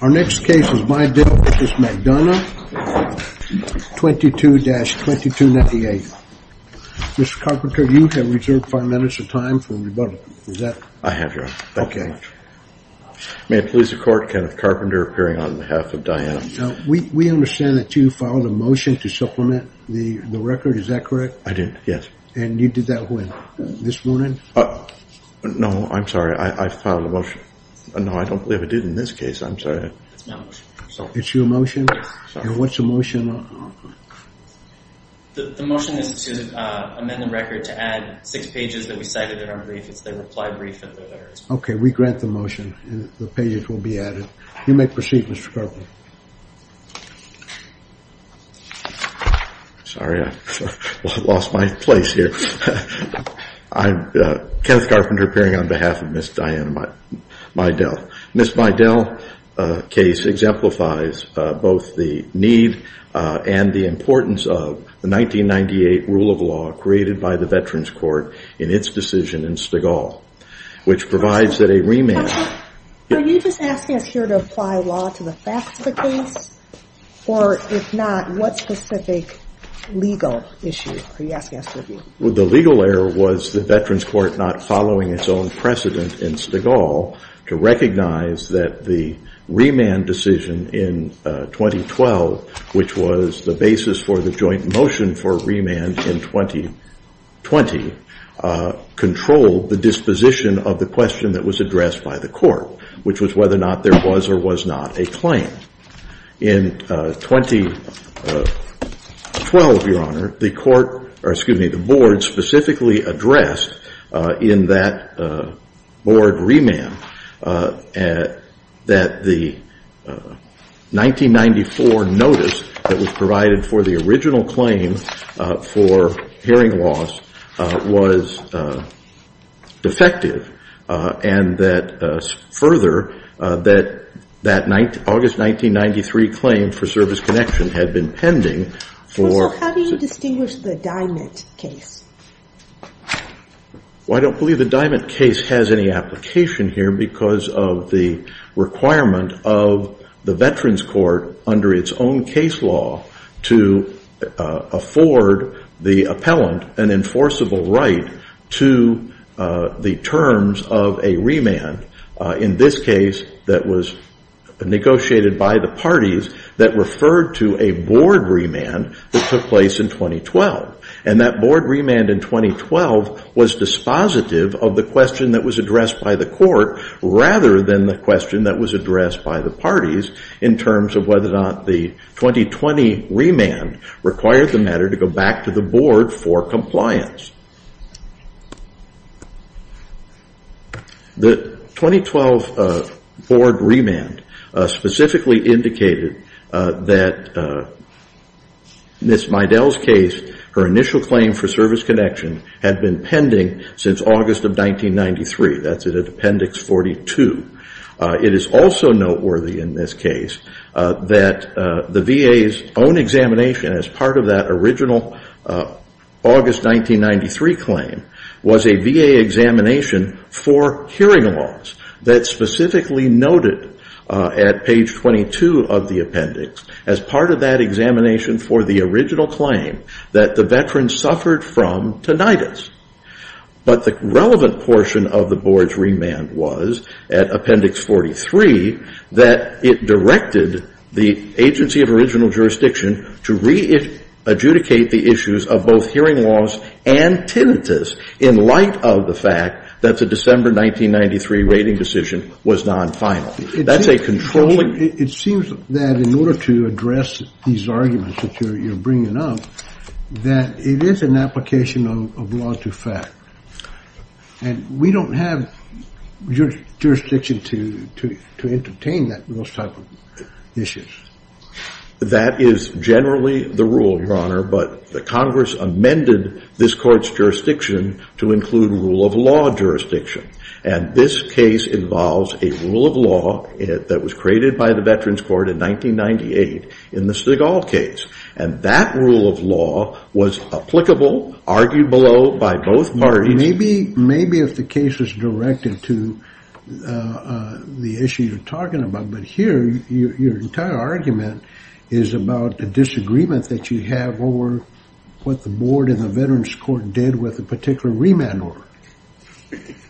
Our next case is Mydell v. McDonough 22-2298. Mr. Carpenter, you have reserved five minutes of time for rebuttal. I have, Your Honor. Thank you very much. May it please the court, Kenneth Carpenter appearing on behalf of Diana. We understand that you filed a motion to supplement the record, is that correct? I did, yes. And you did that when? This morning? No, I'm sorry, I filed a motion. No, I don't believe I did in this case. I'm sorry. It's my motion. It's your motion? And what's the motion? The motion is to amend the record to add six pages that we cited in our brief. It's the reply brief. Okay, we grant the motion and the pages will be added. You may proceed, Mr. Carpenter. Sorry, I lost my place here. I'm Kenneth Carpenter appearing on behalf of Ms. Diana Mydell. Ms. Mydell's case exemplifies both the need and the importance of the 1998 rule of law created by the Veterans Court in its decision in Stegall, which provides that a remand Are you just asking us here to apply law to the facts of the case, or if not, what specific legal issue are you asking us to review? Well, the legal error was the Veterans Court not following its own precedent in Stegall to recognize that the remand decision in 2012, which was the basis for the joint motion for remand in 2020, controlled the disposition of the question that was addressed by the court, which was whether or not there was or was not a claim. In 2012, Your Honor, the court, or excuse me, the board specifically addressed in that board remand that the 1994 notice that was provided for the original claim for hearing loss was defective, and that further, that August 1993 claim for service connection had been pending. First of all, how do you distinguish the Diamond case? Well, I don't believe the Diamond case has any application here because of the requirement of the Veterans Court under its own case law to afford the appellant an enforceable right to the terms of a remand. In this case, that was negotiated by the parties that referred to a board remand that took place in 2012, and that board remand in 2012 was dispositive of the question that was addressed by the court rather than the question that was addressed by the parties in terms of whether or not the 2020 remand required the matter to go to the board for compliance. The 2012 board remand specifically indicated that Ms. Meidel's case, her initial claim for service connection, had been pending since August of 1993. That's in appendix 42. It is also noteworthy in this case that the VA's own examination as part of that original August 1993 claim was a VA examination for hearing laws that specifically noted at page 22 of the appendix as part of that examination for the original claim that the veterans suffered from tinnitus. But the relevant portion of the board's remand was at appendix 43 that it directed the agency of original jurisdiction to re-adjudicate the issues of both hearing laws and tinnitus in light of the fact that the December 1993 rating decision was non-final. That's a controlling... It seems that in order to address these arguments that you're bringing up, that it is an application of law to fact. And we don't have your jurisdiction to entertain that most type of issues. That is generally the rule, Your Honor, but the Congress amended this court's jurisdiction to include rule of law jurisdiction. And this case involves a rule of law that was created by the Veterans Court in 1998 in the Stigall case. And that rule of law was applicable, argued below by both parties. Maybe if the case was directed to the issue you're talking about. But here, your entire argument is about a disagreement that you have over what the board in the Veterans Court did with a particular remand order.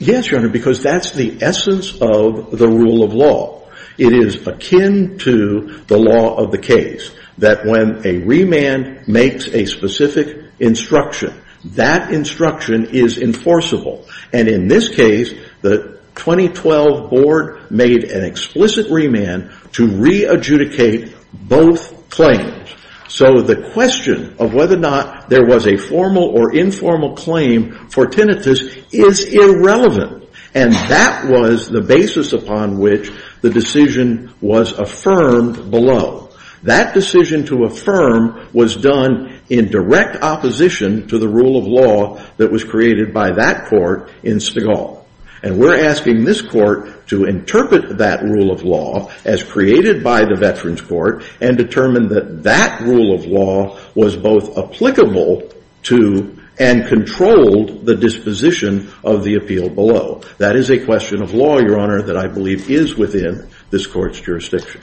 Yes, Your Honor, because that's the essence of the rule of law. It is akin to the law of the case that when a remand makes a specific instruction, that instruction is enforceable. And in this case, the 2012 board made an explicit remand to re-adjudicate both claims. So the question of whether or not there was a formal or informal claim for tinnitus is irrelevant. And that was the basis upon which the decision was affirmed below. That decision to affirm was done in direct opposition to the rule of law that was created by that court in Stigall. And we're asking this court to interpret that rule of law as created by the Veterans Court and determine that that rule of law was both applicable to and controlled the disposition of the appeal below. That is a question of law, Your Honor, that I believe is within this court's jurisdiction.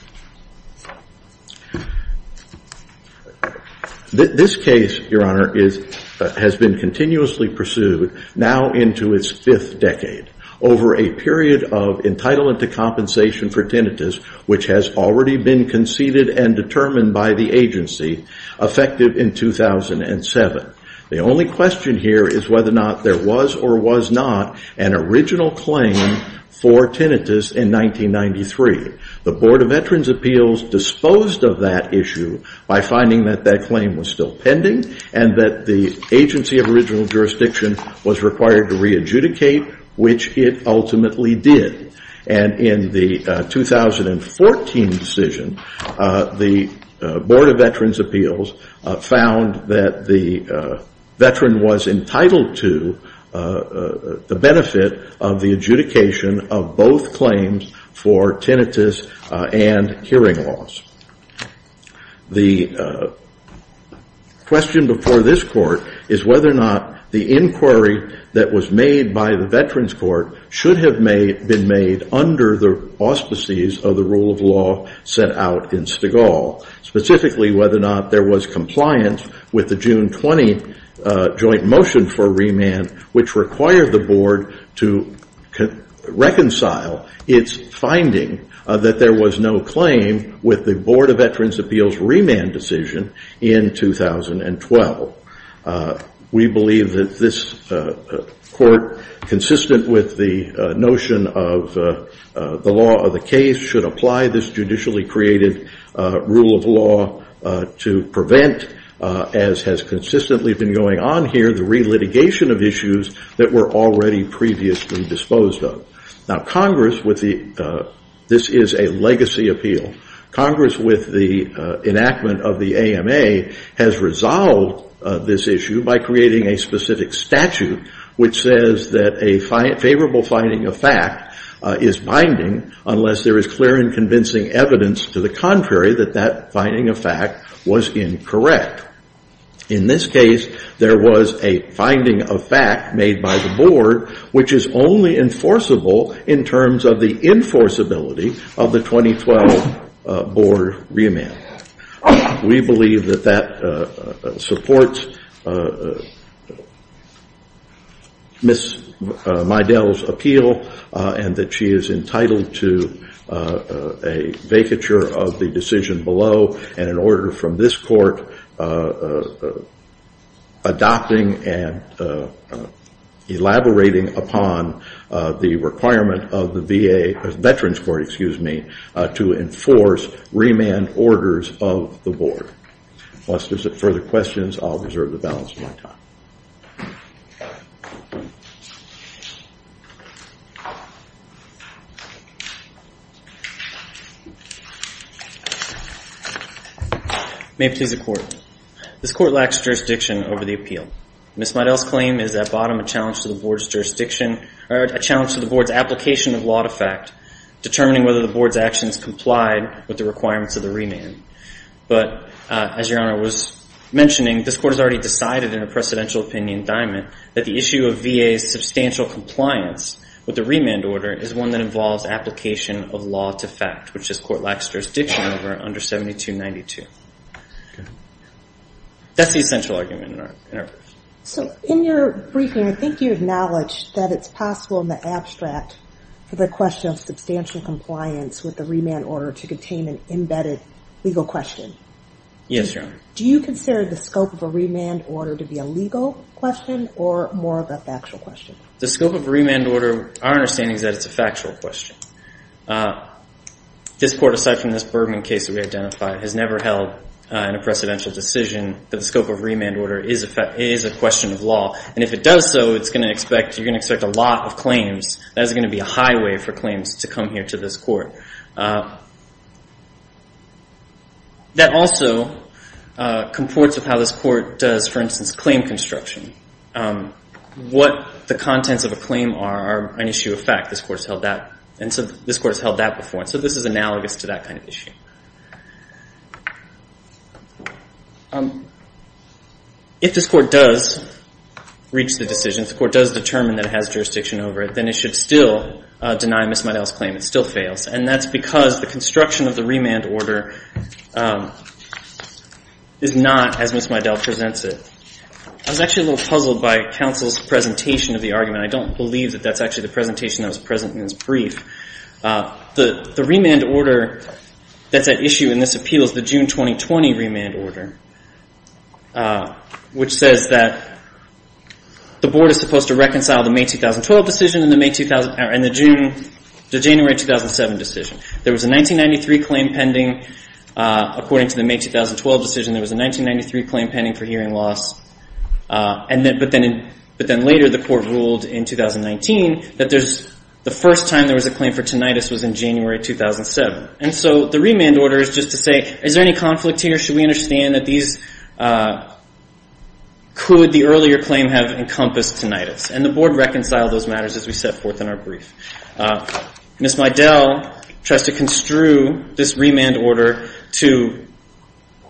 This case, Your Honor, has been continuously pursued now into its fifth decade over a period of entitlement to compensation for tinnitus, which has already been conceded and determined by the agency, effective in 2007. The only question here is whether or not there was or was not an original claim for tinnitus in 1993. The Board of Veterans' Appeals disposed of that issue by finding that that claim was still pending and that the agency of original jurisdiction was required to re-adjudicate, which it ultimately did. And in the 2014 decision, the Board of Veterans' Appeals found that the veteran was entitled to the benefit of the adjudication of both claims for tinnitus and hearing loss. The question before this court is whether or not the inquiry that was made by the Veterans Court should have been made under the auspices of the rule of law set out in Stigall, specifically whether or not there was compliance with the June 20 joint motion for remand, which required the Board to reconcile its finding that there was no claim with the Board of Veterans' Appeals' remand decision in 2012. We believe that this court, consistent with the notion of the law of the case, should apply this judicially created rule of law to prevent, as has consistently been going on here, the re-litigation of issues that were already previously disposed of. Now Congress with the, this is a legacy appeal. Congress with the enactment of the AMA has resolved this issue by creating a specific statute which says that a favorable finding of fact is binding unless there is clear and convincing evidence to the contrary that that finding of fact was incorrect. In this of the 2012 Board remand. We believe that that supports Ms. Meidel's appeal and that she is entitled to a vacature of the decision below and an order from this court adopting and to enforce remand orders of the Board. Unless there's further questions, I'll reserve the balance of my time. May it please the Court. This court lacks jurisdiction over the appeal. Ms. Meidel's claim is at bottom a challenge to the Board's jurisdiction, a challenge to the determining whether the Board's actions complied with the requirements of the remand. But as your Honor was mentioning, this court has already decided in a precedential opinion indictment that the issue of VA's substantial compliance with the remand order is one that involves application of law to fact, which this court lacks jurisdiction over under 7292. That's the essential argument. So in your briefing, I think you acknowledged that it's possible in the abstract for the question of substantial compliance with the remand order to contain an embedded legal question. Yes, Your Honor. Do you consider the scope of a remand order to be a legal question or more of a factual question? The scope of a remand order, our understanding is that it's a factual question. This court, aside from this Bergman case that we identified, has never held in a precedential decision that the scope of remand order is a question of law. And if it does so, you're going to expect a lot of claims. That is going to be a highway for claims to come here to this court. That also comports with how this court does, for instance, claim construction. What the contents of a claim are an issue of fact. This court has held that before. So this is analogous to that kind of issue. If this court does reach the decision, if the court does determine that it has jurisdiction over it, then it should still deny Ms. Meydel's claim. It still fails. And that's because the construction of the remand order is not as Ms. Meydel presents it. I was actually a little puzzled by counsel's presentation of the argument. I don't believe that that's actually the presentation that was present in his brief. The remand order, the remand order is a legal question. The issue in this appeal is the June 2020 remand order, which says that the board is supposed to reconcile the May 2012 decision and the January 2007 decision. There was a 1993 claim pending. According to the May 2012 decision, there was a 1993 claim pending for hearing loss. But then later, the court ruled in 2019 that the first time there was a claim for tinnitus was in January 2007. And so the remand order is just to say, is there any conflict here? Should we understand that these, could the earlier claim have encompassed tinnitus? And the board reconciled those matters as we set forth in our brief. Ms. Meydel tries to construe this remand order to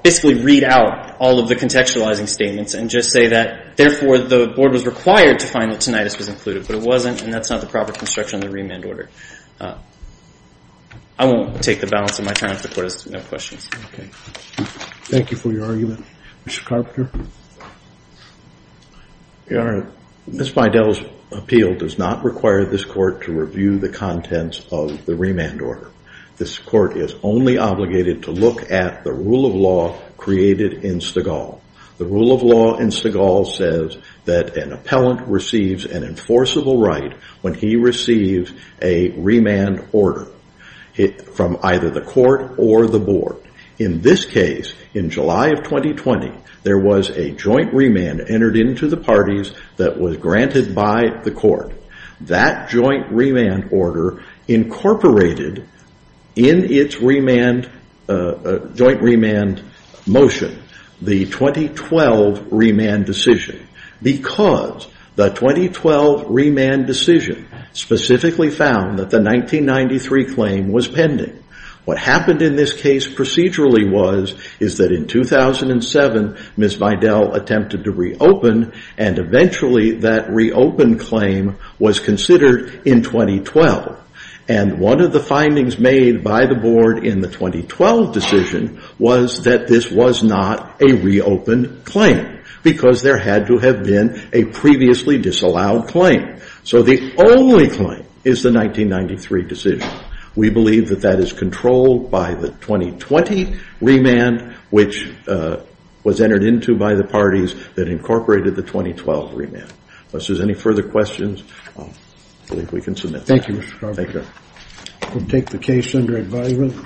basically read out all of the contextualizing statements and just say that, therefore, the board was required to find that tinnitus was included. But it wasn't, and that's not the proper construction of the remand order. I won't take the balance of my time if the court has no questions. Thank you for your argument. Mr. Carpenter. Ms. Meydel's appeal does not require this court to review the contents of the remand order. This court is only obligated to look at the rule of law created in Stegall. The rule of law in forcible right when he receives a remand order from either the court or the board. In this case, in July of 2020, there was a joint remand entered into the parties that was granted by the court. That joint remand order incorporated in its joint remand motion, the 2012 remand decision, because the 2012 remand decision specifically found that the 1993 claim was pending. What happened in this case procedurally was that in 2007, Ms. Meydel attempted to reopen, and eventually that reopen claim was considered in 2012. And one of the findings made by the board in the 2012 decision was that this was not a reopened claim, because there had to have been a previously disallowed claim. So the only claim is the 1993 decision. We believe that that is controlled by the 2020 remand, which was entered into by the parties that incorporated the 2012 remand. Unless there's any further questions, I believe we can submit. Thank you. We'll take the case under advisement.